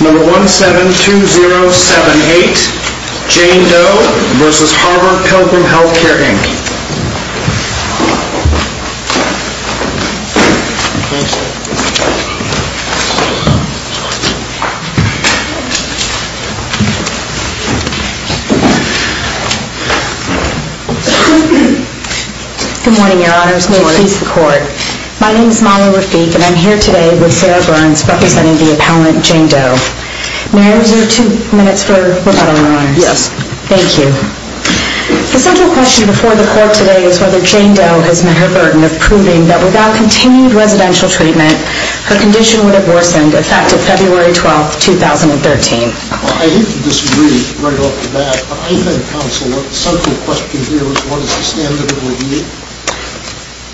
Number 172078, Jane Doe v. Harvard Pilgrim Health Care, Inc. Good morning, Your Honors. May it please the Court. My name is Mala Rafiq, and I'm here today with Sarah Burns, representing the appellant, Jane Doe. May I reserve two minutes for rebuttal, Your Honors? Yes. Thank you. The central question before the Court today is whether Jane Doe has met her burden of proving that without continued residential treatment, her condition would have worsened effective February 12, 2013. Well, I hate to disagree right off the bat, but I think, Counsel, that the central question here is what is the standard of a year?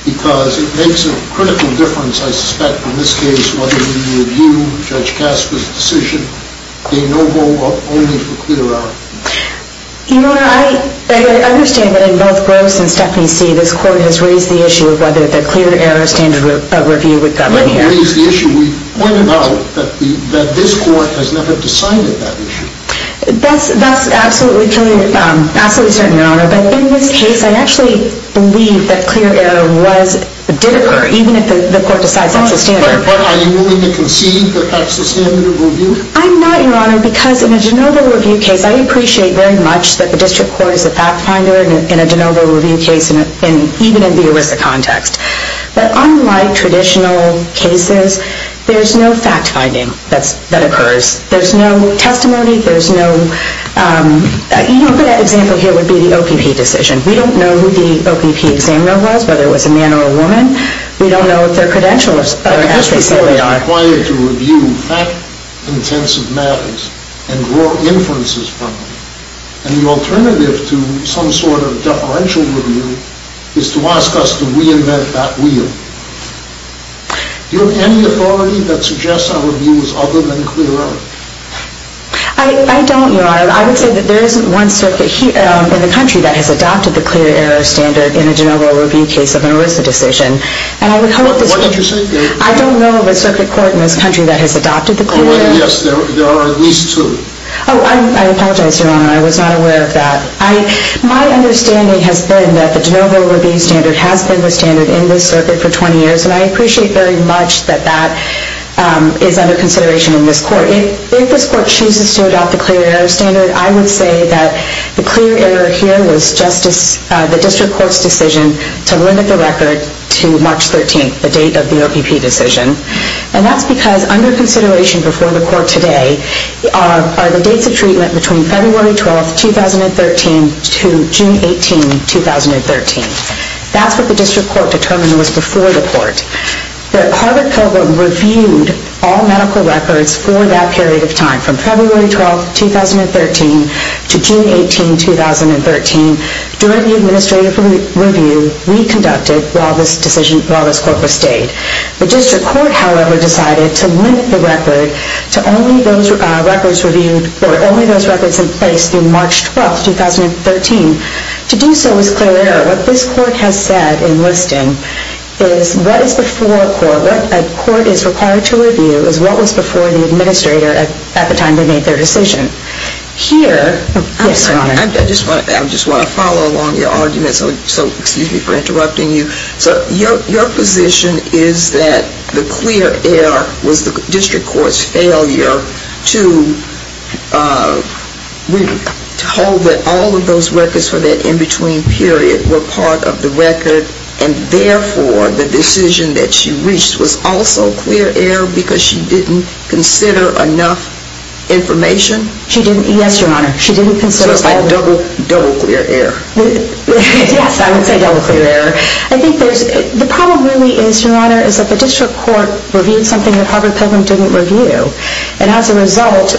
Because it makes a critical difference, I suspect, in this case, whether we review Judge Casper's decision, a no vote vote only for clear error. Your Honor, I understand that in both Gross and Stephanie C., this Court has raised the issue of whether the clear error standard of review would govern here. We raised the issue. We pointed out that this Court has never decided that issue. That's absolutely true, absolutely certain, Your Honor. But in this case, I actually believe that clear error did occur, even if the Court decides that's the standard. But are you willing to concede that that's the standard of review? I'm not, Your Honor, because in a de novo review case, I appreciate very much that the District Court is a fact finder in a de novo review case, even in the ERISA context. But unlike traditional cases, there's no fact finding that occurs. There's no testimony. You know, a good example here would be the OPP decision. We don't know who the OPP examiner was, whether it was a man or a woman. We don't know if their credentials are as they clearly are. But this was required to review fact-intensive matters and draw inferences from them. And the alternative to some sort of deferential review is to ask us to reinvent that wheel. Do you have any authority that suggests our view is other than clear error? I don't, Your Honor. I would say that there isn't one circuit in the country that has adopted the clear error standard in a de novo review case of an ERISA decision. And I would hope this would be— What did you say? I don't know of a circuit court in this country that has adopted the clear error— Yes, there are at least two. Oh, I apologize, Your Honor. I was not aware of that. My understanding has been that the de novo review standard has been the standard in this circuit for 20 years, and I appreciate very much that that is under consideration in this Court. However, if this Court chooses to adopt the clear error standard, I would say that the clear error here was the district court's decision to limit the record to March 13, the date of the OPP decision. And that's because under consideration before the Court today are the dates of treatment between February 12, 2013 to June 18, 2013. That's what the district court determined was before the Court. But Harvard-Pilgrim reviewed all medical records for that period of time from February 12, 2013 to June 18, 2013 during the administrative review we conducted while this decision—while this Court was stayed. The district court, however, decided to limit the record to only those records reviewed— or only those records in place through March 12, 2013. To do so was clear error. What this Court has said in listing is what is before a court—what a court is required to review is what was before the administrator at the time they made their decision. Here— Yes, Your Honor. I just want to follow along your argument. So excuse me for interrupting you. So your position is that the clear error was the district court's failure to hold that all of those records for that in-between period were part of the record, and therefore the decision that she reached was also clear error because she didn't consider enough information? She didn't—yes, Your Honor. She didn't consider— So it's like double clear error. Yes, I would say double clear error. I think there's—the problem really is, Your Honor, is that the district court reviewed something that Harvard-Pilgrim didn't review. And as a result,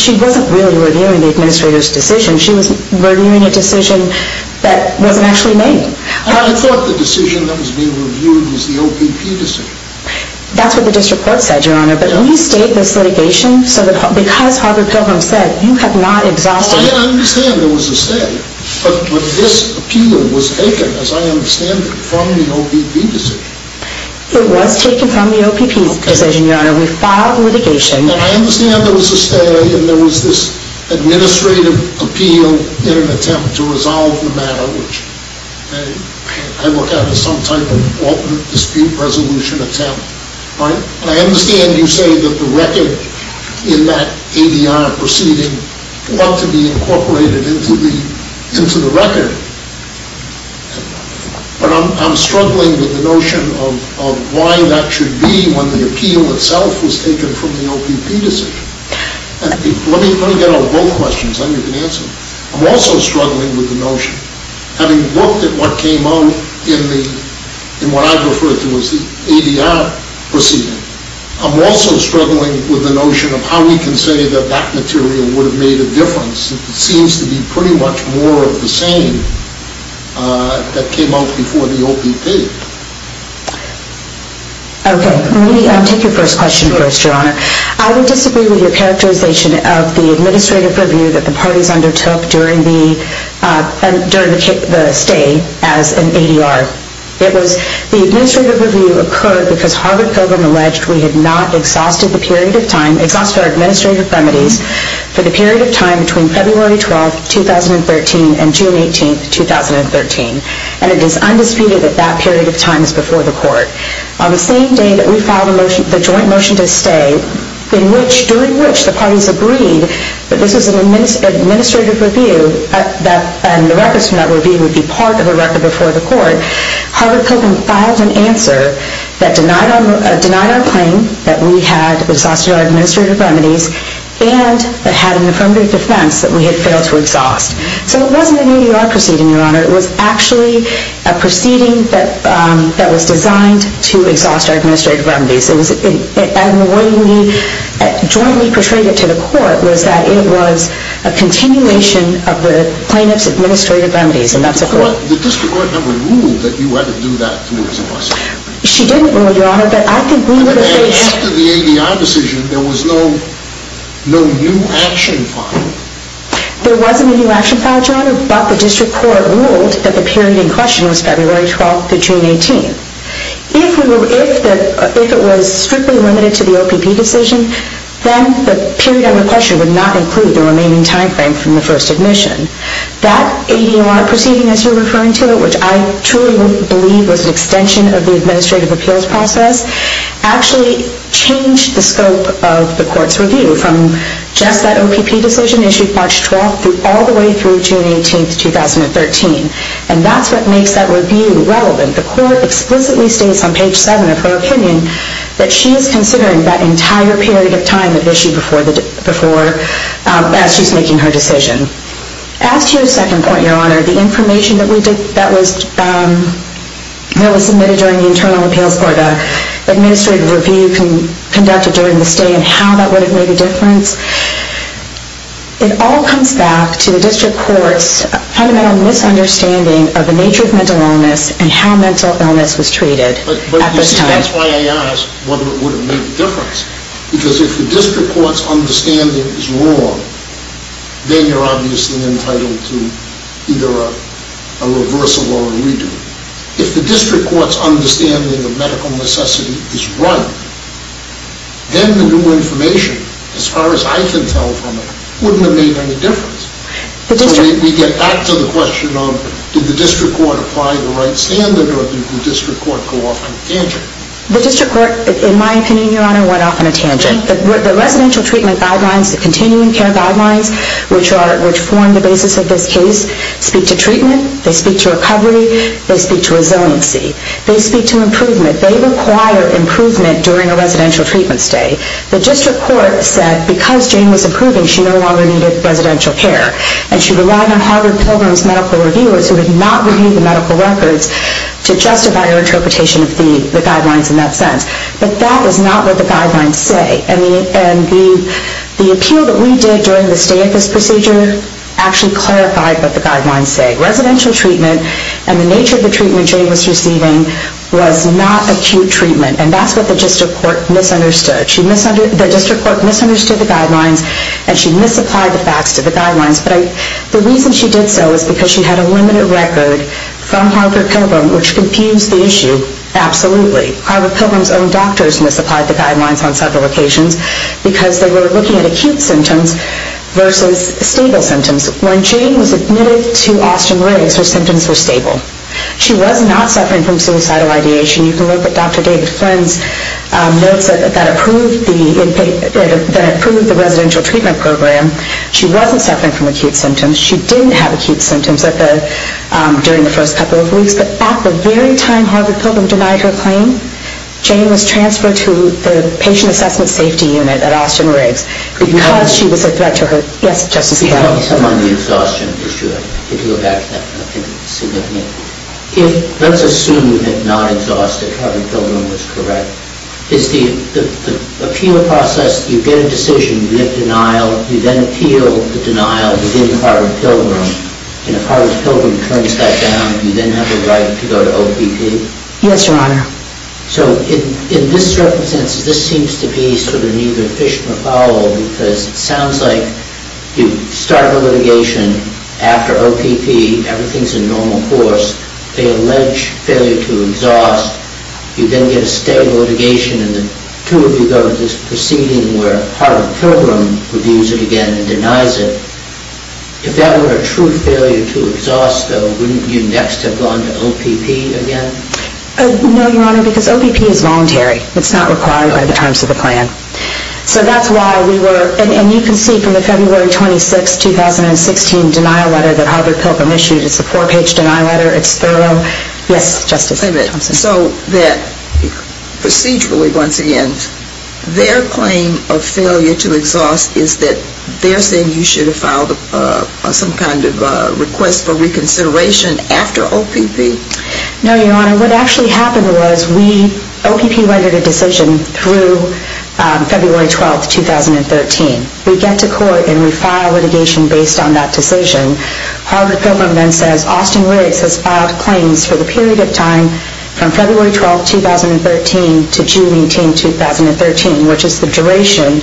she wasn't really reviewing the administrator's decision. She was reviewing a decision that wasn't actually made. I thought the decision that was being reviewed was the OPP decision. That's what the district court said, Your Honor. But we state this litigation so that because Harvard-Pilgrim said, you have not exhausted— I understand there was a stay. But this appeal was taken, as I understand it, from the OPP decision. It was taken from the OPP decision, Your Honor. We filed litigation— And I understand there was a stay and there was this administrative appeal in an attempt to resolve the matter, which I look at as some type of alternate dispute resolution attempt, right? And I understand you say that the record in that ADR proceeding ought to be incorporated into the record. But I'm struggling with the notion of why that should be when the appeal itself was taken from the OPP decision. Let me get on both questions, then you can answer them. I'm also struggling with the notion, having looked at what came out in what I refer to as the ADR proceeding, I'm also struggling with the notion of how we can say that that material would have made a difference. It seems to be pretty much more of the same that came out before the OPP. Okay, let me take your first question first, Your Honor. I would disagree with your characterization of the administrative review that the parties undertook during the stay as an ADR. The administrative review occurred because Harvard Pilgrim alleged we had not exhausted the period of time, exhausted our administrative remedies for the period of time between February 12, 2013 and June 18, 2013. And it is undisputed that that period of time is before the court. On the same day that we filed the joint motion to stay, during which the parties agreed that this was an administrative review and the records from that review would be part of a record before the court, Harvard Pilgrim filed an answer that denied our claim that we had exhausted our administrative remedies and that had an affirmative defense that we had failed to exhaust. So it wasn't an ADR proceeding, Your Honor. It was actually a proceeding that was designed to exhaust our administrative remedies. And the way we jointly portrayed it to the court was that it was a continuation of the plaintiff's administrative remedies, and that's a fact. But the district court never ruled that you had to do that to us. She didn't rule, Your Honor. But I think we would have failed. Except for the ADR decision, there was no new action filed. There wasn't a new action filed, Your Honor, but the district court ruled that the period in question was February 12 to June 18. If it was strictly limited to the OPP decision, then the period under question would not include the remaining time frame from the first admission. That ADR proceeding, as you're referring to it, which I truly believe was an extension of the administrative appeals process, actually changed the scope of the court's review from just that OPP decision issued March 12 all the way through June 18, 2013. And that's what makes that review relevant. The court explicitly states on page 7 of her opinion that she is considering that entire period of time of issue as she's making her decision. As to your second point, Your Honor, the information that was submitted during the internal appeals court, the administrative review conducted during the stay, and how that would have made a difference, it all comes back to the district court's fundamental misunderstanding of the nature of mental illness and how mental illness was treated at this time. But that's why I asked whether it would have made a difference. Because if the district court's understanding is wrong, then you're obviously entitled to either a reversal or a redo. If the district court's understanding of medical necessity is right, then the new information, as far as I can tell from it, wouldn't have made any difference. We get back to the question of did the district court apply the right standard or did the district court go off on a tangent? The district court, in my opinion, Your Honor, went off on a tangent. The residential treatment guidelines, the continuing care guidelines, which form the basis of this case, speak to treatment. They speak to recovery. They speak to resiliency. They speak to improvement. They require improvement during a residential treatment stay. The district court said because Jane was improving, she no longer needed residential care. And she relied on Harvard Pilgrim's medical reviewers, who had not reviewed the medical records, to justify her interpretation of the guidelines in that sense. But that is not what the guidelines say. And the appeal that we did during the stay at this procedure actually clarified what the guidelines say. Residential treatment and the nature of the treatment Jane was receiving was not acute treatment. And that's what the district court misunderstood. The district court misunderstood the guidelines and she misapplied the facts to the guidelines. But the reason she did so is because she had a limited record from Harvard Pilgrim, which confused the issue absolutely. Harvard Pilgrim's own doctors misapplied the guidelines on several occasions because they were looking at acute symptoms versus stable symptoms. When Jane was admitted to Austin Riggs, her symptoms were stable. She was not suffering from suicidal ideation. You can look at Dr. David Flynn's notes that approved the residential treatment program. She wasn't suffering from acute symptoms. She didn't have acute symptoms during the first couple of weeks. But at the very time Harvard Pilgrim denied her claim, Jane was transferred to the patient assessment safety unit at Austin Riggs because she was a threat to her health. Let's assume that non-exhaustive Harvard Pilgrim was correct. Is the appeal process, you get a decision, you get denial, you then appeal the denial within Harvard Pilgrim, and if Harvard Pilgrim turns that down, do you then have a right to go to OPP? Yes, Your Honor. So this seems to be sort of an either fish or a fowl because it sounds like you start the litigation after OPP, everything's in normal course, they allege failure to exhaust, you then get a stable litigation, and the two of you go to this proceeding where Harvard Pilgrim reviews it again and denies it. If that were a true failure to exhaust, though, wouldn't you next have gone to OPP again? No, Your Honor, because OPP is voluntary. It's not required by the terms of the plan. So that's why we were, and you can see from the February 26, 2016, denial letter that Harvard Pilgrim issued. It's a four-page denial letter. It's thorough. Yes, Justice Thompson. So procedurally, once again, their claim of failure to exhaust is that they're saying you should have filed some kind of request for reconsideration after OPP? No, Your Honor. Your Honor, what actually happened was OPP rendered a decision through February 12, 2013. We get to court and we file litigation based on that decision. Harvard Pilgrim then says Austin Riggs has filed claims for the period of time from February 12, 2013 to June 18, 2013, which is the duration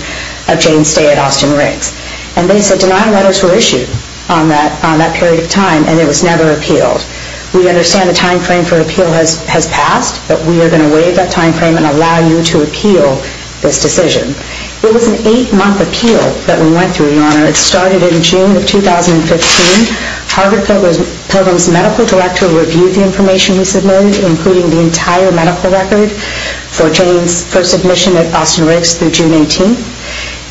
of Jane's stay at Austin Riggs. And they said denial letters were issued on that period of time and it was never appealed. We understand the time frame for appeal has passed, but we are going to waive that time frame and allow you to appeal this decision. It was an eight-month appeal that we went through, Your Honor. It started in June of 2015. Harvard Pilgrim's medical director reviewed the information we submitted, including the entire medical record for Jane's first admission at Austin Riggs through June 18.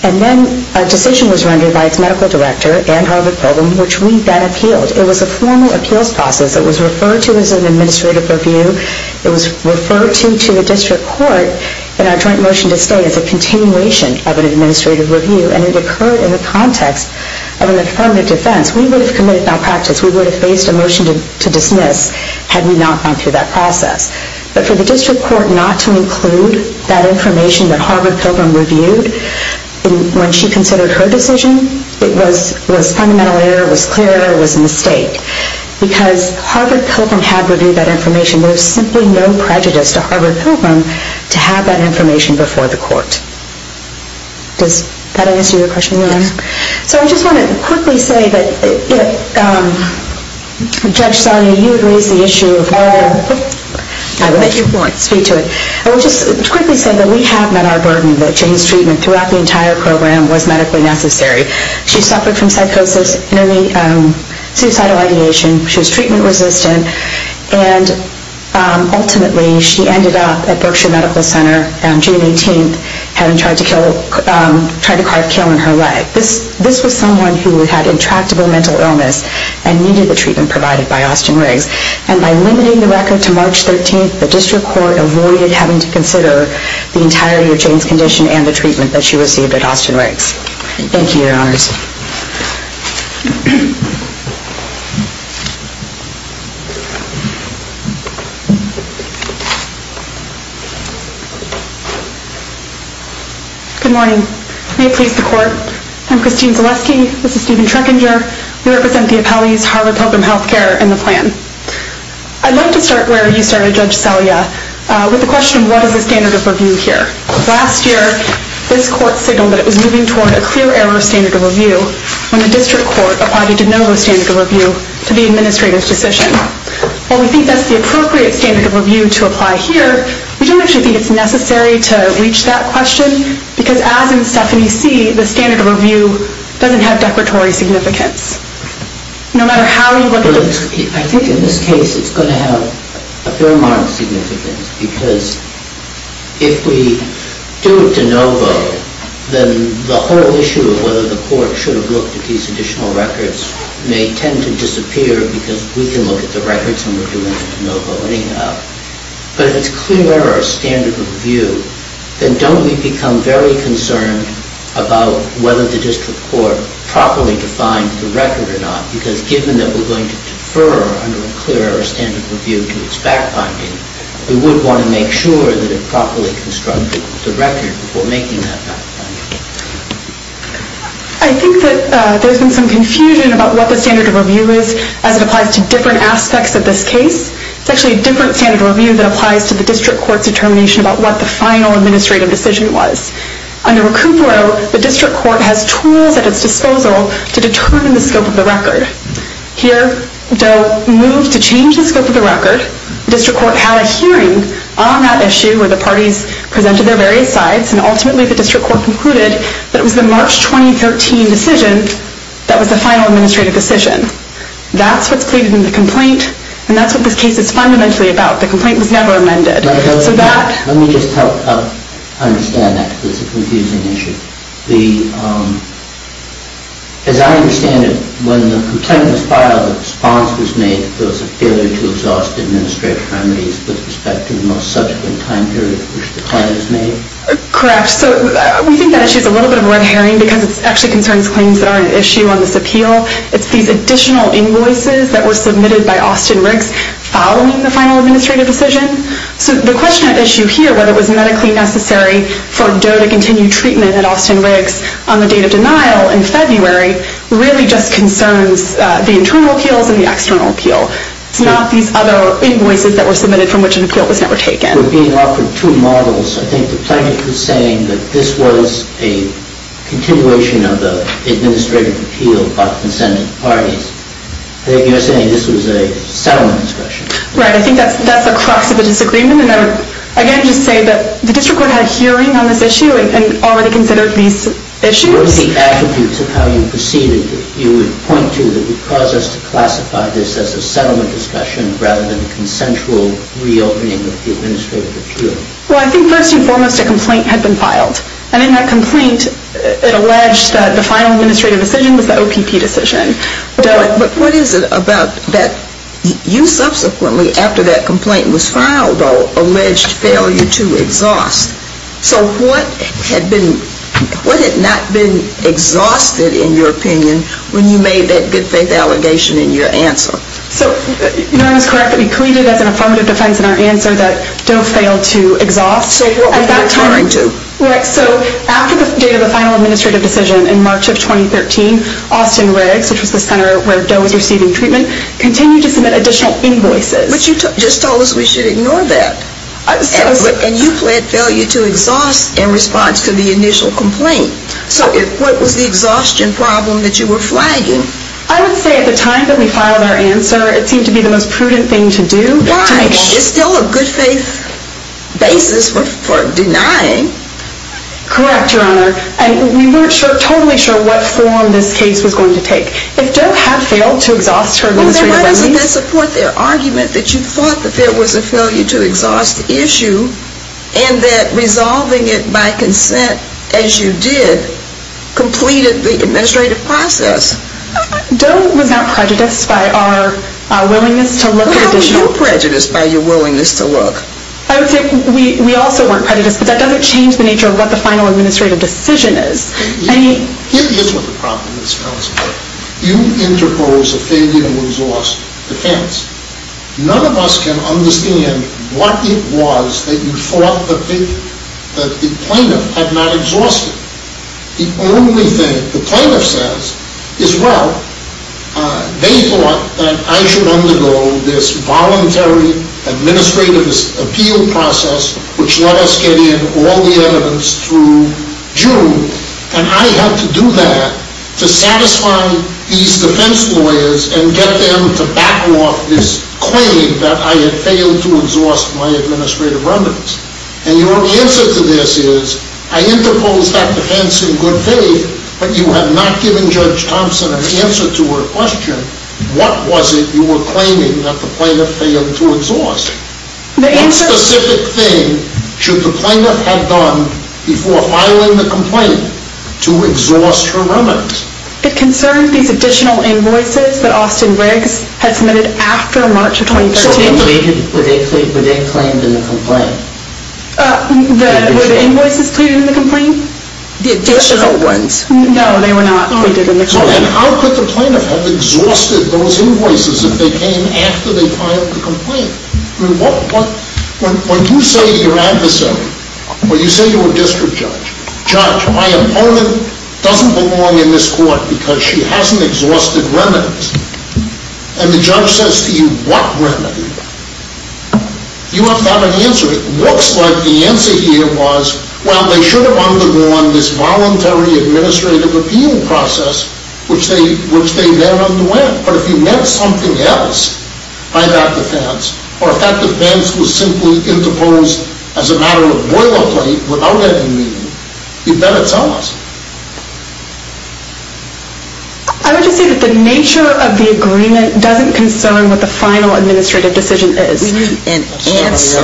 And then a decision was rendered by its medical director and Harvard Pilgrim, which we then appealed. It was a formal appeals process. It was referred to as an administrative review. It was referred to the district court in our joint motion to stay as a continuation of an administrative review, and it occurred in the context of an affirmative defense. We would have committed malpractice. We would have faced a motion to dismiss had we not gone through that process. But for the district court not to include that information that Harvard Pilgrim reviewed when she considered her decision, it was fundamental error. It was clear it was a mistake, because Harvard Pilgrim had reviewed that information. There was simply no prejudice to Harvard Pilgrim to have that information before the court. Does that answer your question, Your Honor? Yes. So I just want to quickly say that Judge Sonia, you had raised the issue of whether I would like to speak to it. I would just quickly say that we have met our burden, that Jane's treatment throughout the entire program was medically necessary. She suffered from psychosis, suicidal ideation, she was treatment resistant, and ultimately she ended up at Berkshire Medical Center on June 18th having tried to carve kill in her leg. This was someone who had intractable mental illness and needed the treatment provided by Austin Riggs. And by limiting the record to March 13th, the district court avoided having to consider the entirety of Jane's condition and the treatment that she received at Austin Riggs. Thank you, Your Honors. Good morning. May it please the court. I'm Christine Zaleski. This is Stephen Treckinger. We represent the appellees, Harvard Pilgrim Healthcare, in the plan. I'd like to start where you started, Judge Celia, with the question of what is the standard of review here? Last year, this court signaled that it was moving toward a clear error of standard of review when the district court applied a de novo standard of review to the administrator's decision. While we think that's the appropriate standard of review to apply here, we don't actually think it's necessary to reach that question because as in Stephanie C., the standard of review doesn't have declaratory significance. No matter how you look at it. I think in this case it's going to have a fair amount of significance because if we do a de novo, then the whole issue of whether the court should have looked at these additional records may tend to disappear because we can look at the records and we're doing a de novo anyhow. But if it's clear error of standard of review, then don't we become very concerned about whether the district court properly defined the record or not because given that we're going to defer under a clear error of standard of review to its back finding, we would want to make sure that it properly constructed the record before making that back finding. I think that there's been some confusion about what the standard of review is as it applies to different aspects of this case. It's actually a different standard of review that applies to the district court's determination about what the final administrative decision was. Under Recoupro, the district court has tools at its disposal Here they'll move to change the scope of the record. The district court had a hearing on that issue where the parties presented their various sides and ultimately the district court concluded that it was the March 2013 decision that was the final administrative decision. That's what's pleaded in the complaint and that's what this case is fundamentally about. The complaint was never amended. Let me just help understand that because it's a confusing issue. As I understand it, when the complaint was filed, the response was made that there was a failure to exhaust administrative remedies with respect to the most subsequent time period in which the claim was made? Correct. We think that issue is a little bit of a red herring because it actually concerns claims that aren't at issue on this appeal. It's these additional invoices that were submitted by Austin Riggs following the final administrative decision. The question at issue here, whether it was medically necessary for DOE to continue treatment at Austin Riggs on the date of denial in February, really just concerns the internal appeals and the external appeal. It's not these other invoices that were submitted from which an appeal was never taken. We're being offered two models. I think the plaintiff was saying that this was a continuation of the administrative appeal by consented parties. I think you're saying this was a settlement discretion. Right. I think that's the crux of the disagreement and I would again just say that the district court had a hearing on this issue and already considered these issues. What are the attributes of how you proceeded that you would point to that would cause us to classify this as a settlement discretion rather than a consensual reopening of the administrative appeal? Well, I think first and foremost, a complaint had been filed. And in that complaint, it alleged that the final administrative decision was the OPP decision. But what is it about that you subsequently, after that complaint was filed, alleged failure to exhaust? So what had not been exhausted, in your opinion, when you made that good faith allegation in your answer? You know, I was correct that we pleaded as an affirmative defense in our answer that Doe failed to exhaust. Say what we're referring to. Right. So after the date of the final administrative decision in March of 2013, Austin Riggs, which was the center where Doe was receiving treatment, continued to submit additional invoices. But you just told us we should ignore that. And you pled failure to exhaust in response to the initial complaint. So what was the exhaustion problem that you were flagging? I would say at the time that we filed our answer, it seemed to be the most prudent thing to do. Why? It's still a good faith basis for denying. Correct, Your Honor. And we weren't totally sure what form this case was going to take. If Doe had failed to exhaust her administrative levy... Then why doesn't that support their argument that you thought that there was a failure to exhaust issue and that resolving it by consent, as you did, completed the administrative process? Doe was not prejudiced by our willingness to look at a date. How were you prejudiced by your willingness to look? I would say we also weren't prejudiced, but that doesn't change the nature of what the final administrative decision is. Here's what the problem is, Counselor. You interpose a failure to exhaust defense. None of us can understand what it was that you thought that the plaintiff had not exhausted. The only thing the plaintiff says is, well, they thought that I should undergo this voluntary administrative appeal process which let us get in all the evidence through June, and I had to do that to satisfy these defense lawyers and get them to back off this claim that I had failed to exhaust my administrative remands. And your answer to this is, I interposed that defense in good faith, but you had not given Judge Thompson an answer to her question. What was it you were claiming that the plaintiff failed to exhaust? What specific thing should the plaintiff have done before filing the complaint to exhaust her remands? It concerned these additional invoices that Austin Briggs had submitted after March of 2013. Were they claimed in the complaint? Were the invoices cleared in the complaint? The additional ones. No, they were not cleared in the complaint. And how could the plaintiff have exhausted those invoices if they came after they filed the complaint? When you say to your adversary, when you say to a district judge, Judge, my opponent doesn't belong in this court because she hasn't exhausted remands. And the judge says to you, what remedy? You have not an answer. It looks like the answer here was, well, they should have undergone this voluntary administrative appeal process which they then underwent. But if you meant something else by that defense, or if that defense was simply interposed as a matter of boilerplate without any meaning, you better tell us. I would just say that the nature of the agreement doesn't concern what the final administrative decision is. We need an answer.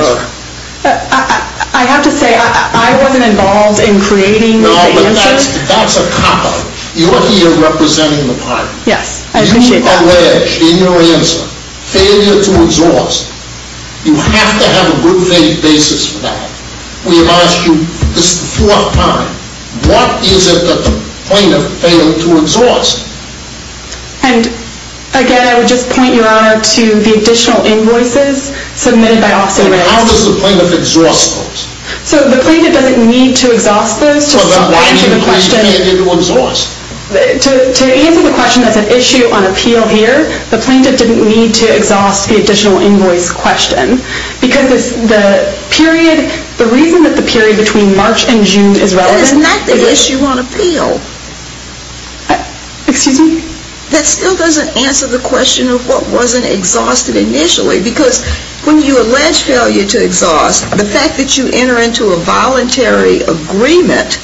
I have to say, I wasn't involved in creating the answer. No, but that's a cop-out. You're here representing the party. Yes, I appreciate that. You allege in your answer failure to exhaust. You have to have a group-based basis for that. We have asked you, this is the fourth time, what is it that the plaintiff failed to exhaust? And again, I would just point, Your Honor, to the additional invoices submitted by Office of Remand. How does the plaintiff exhaust those? So the plaintiff doesn't need to exhaust those to answer the question. Well, then why didn't the plaintiff fail to exhaust? To answer the question, that's an issue on appeal here. The plaintiff didn't need to exhaust the additional invoice question. Because the period, the reason that the period between March and June is relevant. That is not the issue on appeal. Excuse me? That still doesn't answer the question of what wasn't exhausted initially. Because when you allege failure to exhaust, the fact that you enter into a voluntary agreement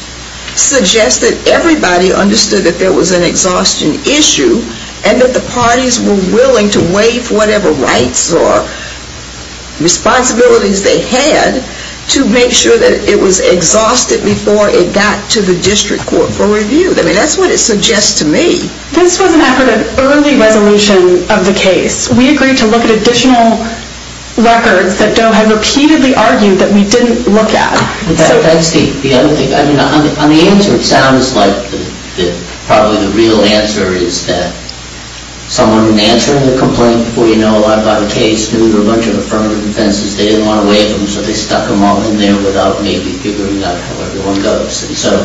suggests that everybody understood that there was an exhaustion issue and that the parties were willing to waive whatever rights or responsibilities they had to make sure that it was exhausted before it got to the district court for review. I mean, that's what it suggests to me. This was an effort of early resolution of the case. We agreed to look at additional records that Doe had repeatedly argued that we didn't look at. That's the other thing. I mean, on the answer, it sounds like probably the real answer is that someone answering the complaint before you know a lot about the case knew there were a bunch of affirmative offenses. They didn't want to waive them, so they stuck them all in there without maybe figuring out how everyone goes. And so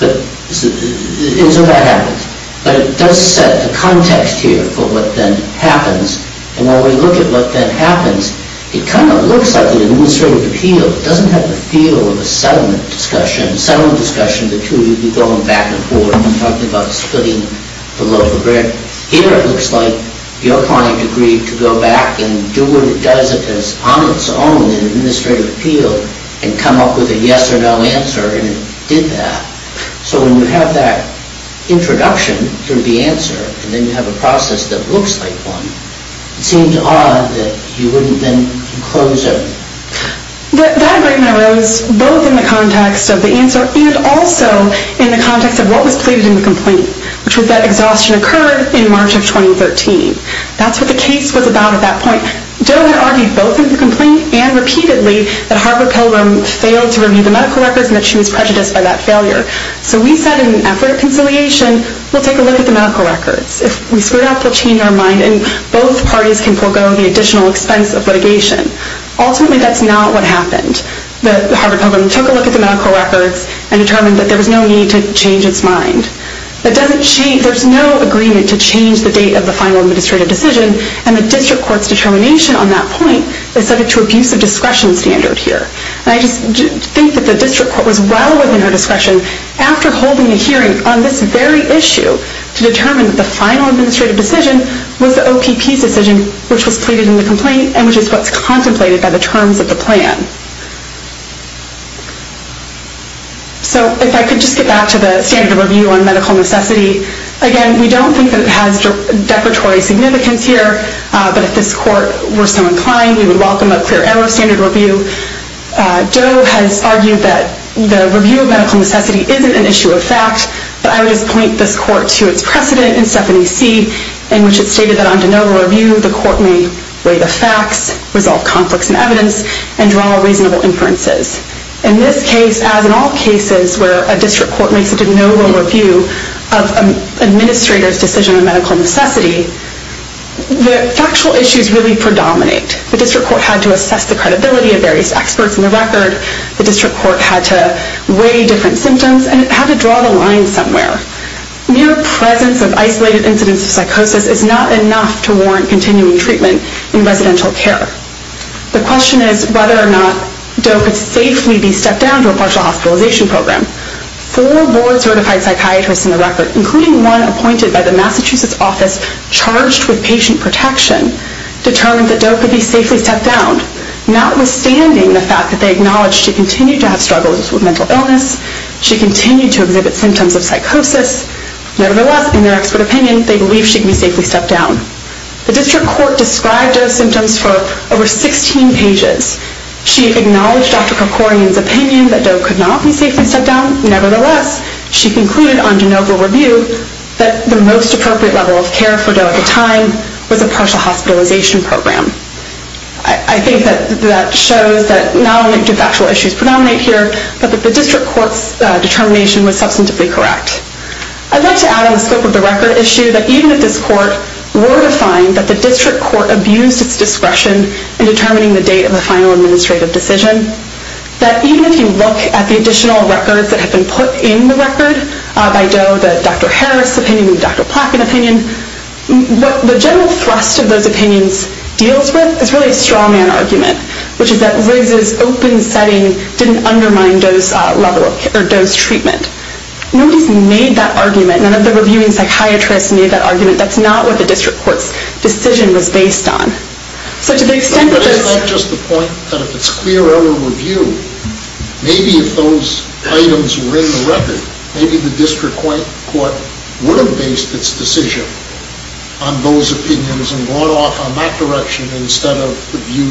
that happens. But it does set the context here for what then happens. And when we look at what then happens, it kind of looks like an administrative appeal. It doesn't have the feel of a settlement discussion. In a settlement discussion, the two of you would be going back and forth and talking about splitting the local grid. Here, it looks like your client agreed to go back and do what it does if it's on its own in an administrative appeal and come up with a yes or no answer, and it did that. So when you have that introduction through the answer, and then you have a process that looks like one, it seems odd that you wouldn't then close everything. That agreement arose both in the context of the answer and also in the context of what was pleaded in the complaint, which was that exhaustion occurred in March of 2013. That's what the case was about at that point. Doe had argued both in the complaint and repeatedly that Harper Pilgrim failed to review the medical records and that she was prejudiced by that failure. So we said in an effort of conciliation, we'll take a look at the medical records. If we screw it up, they'll change our mind, and both parties can forego the additional expense of litigation. Ultimately, that's not what happened. Harper Pilgrim took a look at the medical records and determined that there was no need to change its mind. There's no agreement to change the date of the final administrative decision, and the district court's determination on that point is subject to abuse of discretion standard here. I just think that the district court was well within her discretion after holding a hearing on this very issue to determine that the final administrative decision was the OPP's decision, which was pleaded in the complaint and which is what's contemplated by the terms of the plan. So if I could just get back to the standard review on medical necessity. Again, we don't think that it has decoratory significance here, but if this court were so inclined, we would welcome a clear error of standard review. Doe has argued that the review of medical necessity isn't an issue of fact, but I would just point this court to its precedent in Stephanie C, in which it stated that on de novo review, the court may weigh the facts, resolve conflicts in evidence, and draw reasonable inferences. In this case, as in all cases where a district court makes a de novo review of an administrator's decision on medical necessity, the factual issues really predominate. The district court had to assess the credibility of various experts in the record. The district court had to weigh different symptoms and had to draw the line somewhere. Mere presence of isolated incidents of psychosis is not enough to warrant continuing treatment in residential care. The question is whether or not Doe could safely be stepped down to a partial hospitalization program. Four board-certified psychiatrists in the record, including one appointed by the Massachusetts office charged with patient protection, determined that Doe could be safely stepped down, notwithstanding the fact that they acknowledge she continued to have struggles with mental illness, she continued to exhibit symptoms of psychosis. Nevertheless, in their expert opinion, they believe she can be safely stepped down. The district court described Doe's symptoms for over 16 pages. She acknowledged Dr. Kerkorian's opinion that Doe could not be safely stepped down. Nevertheless, she concluded on de novo review that the most appropriate level of care for Doe at the time was a partial hospitalization program. I think that shows that not only do factual issues predominate here, but that the district court's determination was substantively correct. I'd like to add on the scope of the record issue that even if this court were to find that the district court abused its discretion in determining the date of the final administrative decision, that even if you look at the additional records that have been put in the record by Doe, the Dr. Harris opinion and the Dr. Plotkin opinion, what the general thrust of those opinions deals with is really a straw-man argument, which is that Riggs's open setting didn't undermine Doe's level or Doe's treatment. Nobody's made that argument. None of the reviewing psychiatrists made that argument. That's not what the district court's decision was based on. So to the extent that this... But is that just the point, that if it's clear over review, maybe if those items were in the record, maybe the district court would have based its decision on those opinions and gone off on that direction instead of the view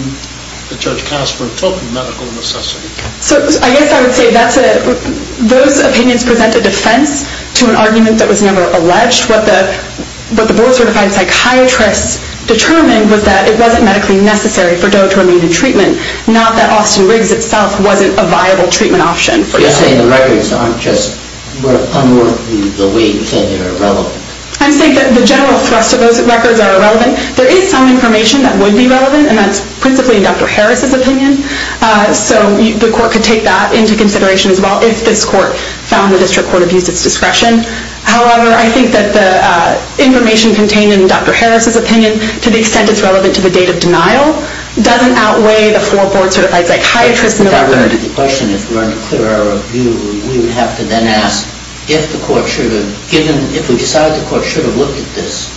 that Judge Casper took in medical necessity. So I guess I would say that's a... Those opinions present a defense to an argument that was never alleged. What the board-certified psychiatrists determined was that it wasn't medically necessary for Doe to remain in treatment, not that Austin Riggs itself wasn't a viable treatment option. But you're saying the records aren't just unworthy the way you said they were irrelevant. I'm saying that the general thrust of those records are irrelevant. There is some information that would be relevant, and that's principally Dr. Harris's opinion. So the court could take that into consideration as well if this court found the district court abused its discretion. However, I think that the information contained in Dr. Harris's opinion, to the extent it's relevant to the date of denial, doesn't outweigh the four board-certified psychiatrists in the record. If I were to ask the question, if we're under clear error of view, we would have to then ask if the court should have given... If we decided the court should have looked at this,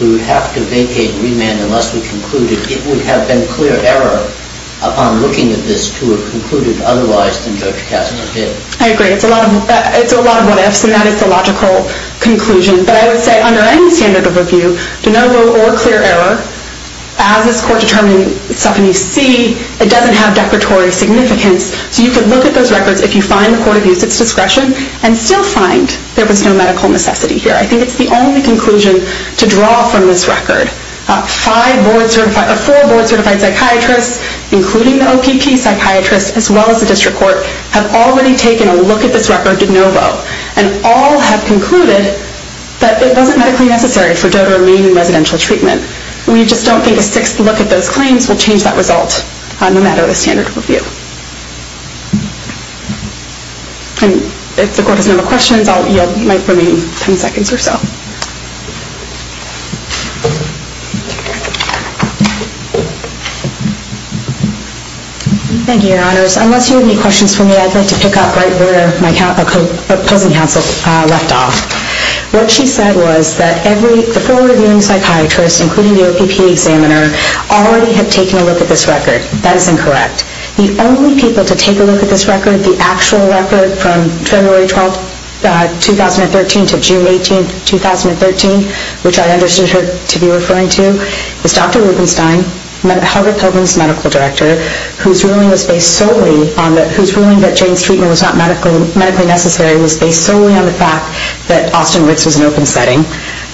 we would have to vacate remand unless we concluded it would have been clear error upon looking at this to have concluded otherwise than Judge Cassano did. I agree. It's a lot of what-ifs, and that is the logical conclusion. But I would say under any standard of review, denial or clear error, as this court determined itself in EC, it doesn't have declaratory significance. So you could look at those records if you find the court abused its discretion and still find there was no medical necessity here. I think it's the only conclusion to draw from this record. Four board-certified psychiatrists, including the OPP psychiatrist as well as the district court, have already taken a look at this record de novo and all have concluded that it wasn't medically necessary for DOTA to remain in residential treatment. We just don't think a sixth look at those claims will change that result no matter the standard of review. If the court has no more questions, I'll yield my remaining ten seconds or so. Thank you, Your Honors. Unless you have any questions for me, I'd like to pick up right where my opposing counsel left off. What she said was that the full-reviewing psychiatrist, including the OPP examiner, already had taken a look at this record. That is incorrect. The only people to take a look at this record, the actual record from February 12, 2013, to June 18, 2013, which I understood her to be referring to, is Dr. Rubenstein, Harvard Pilgrim's medical director, whose ruling that Jane's treatment was not medically necessary was based solely on the fact that Austin Ritz was an open setting,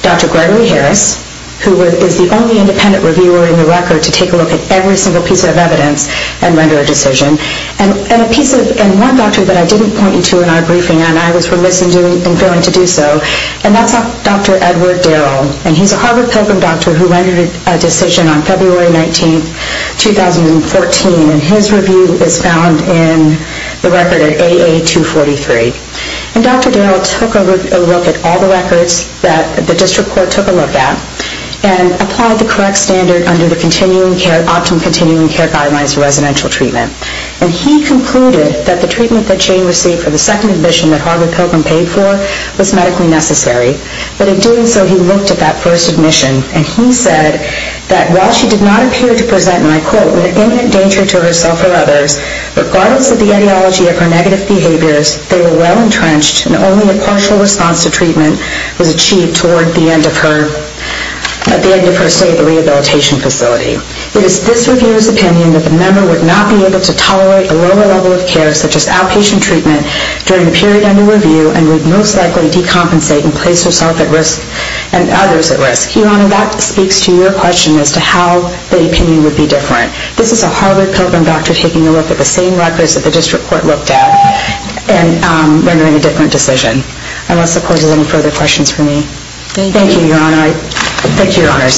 Dr. Gregory Harris, who is the only independent reviewer in the record to take a look at every single piece of evidence and render a decision, and one doctor that I didn't point you to in our briefing and I was remiss in failing to do so, and that's Dr. Edward Darrell. And he's a Harvard Pilgrim doctor who rendered a decision on February 19, 2014, and his review is found in the record at AA243. And Dr. Darrell took a look at all the records that the district court took a look at and applied the correct standard under the optimum continuing care guidelines for residential treatment. And he concluded that the treatment that Jane received for the second admission that Harvard Pilgrim paid for was medically necessary. But in doing so, he looked at that first admission, and he said that while she did not appear to present, and I quote, an imminent danger to herself or others, regardless of the ideology of her negative behaviors, they were well entrenched and only a partial response to treatment was achieved toward the end of her stay at the rehabilitation facility. It is this reviewer's opinion that the member would not be able to tolerate a lower level of care such as outpatient treatment during the period under review and would most likely decompensate and place herself at risk and others at risk. Your Honor, that speaks to your question as to how the opinion would be different. This is a Harvard Pilgrim doctor taking a look at the same records that the district court looked at and rendering a different decision. Unless, of course, there's any further questions for me. Thank you, Your Honor. Thank you, Your Honors.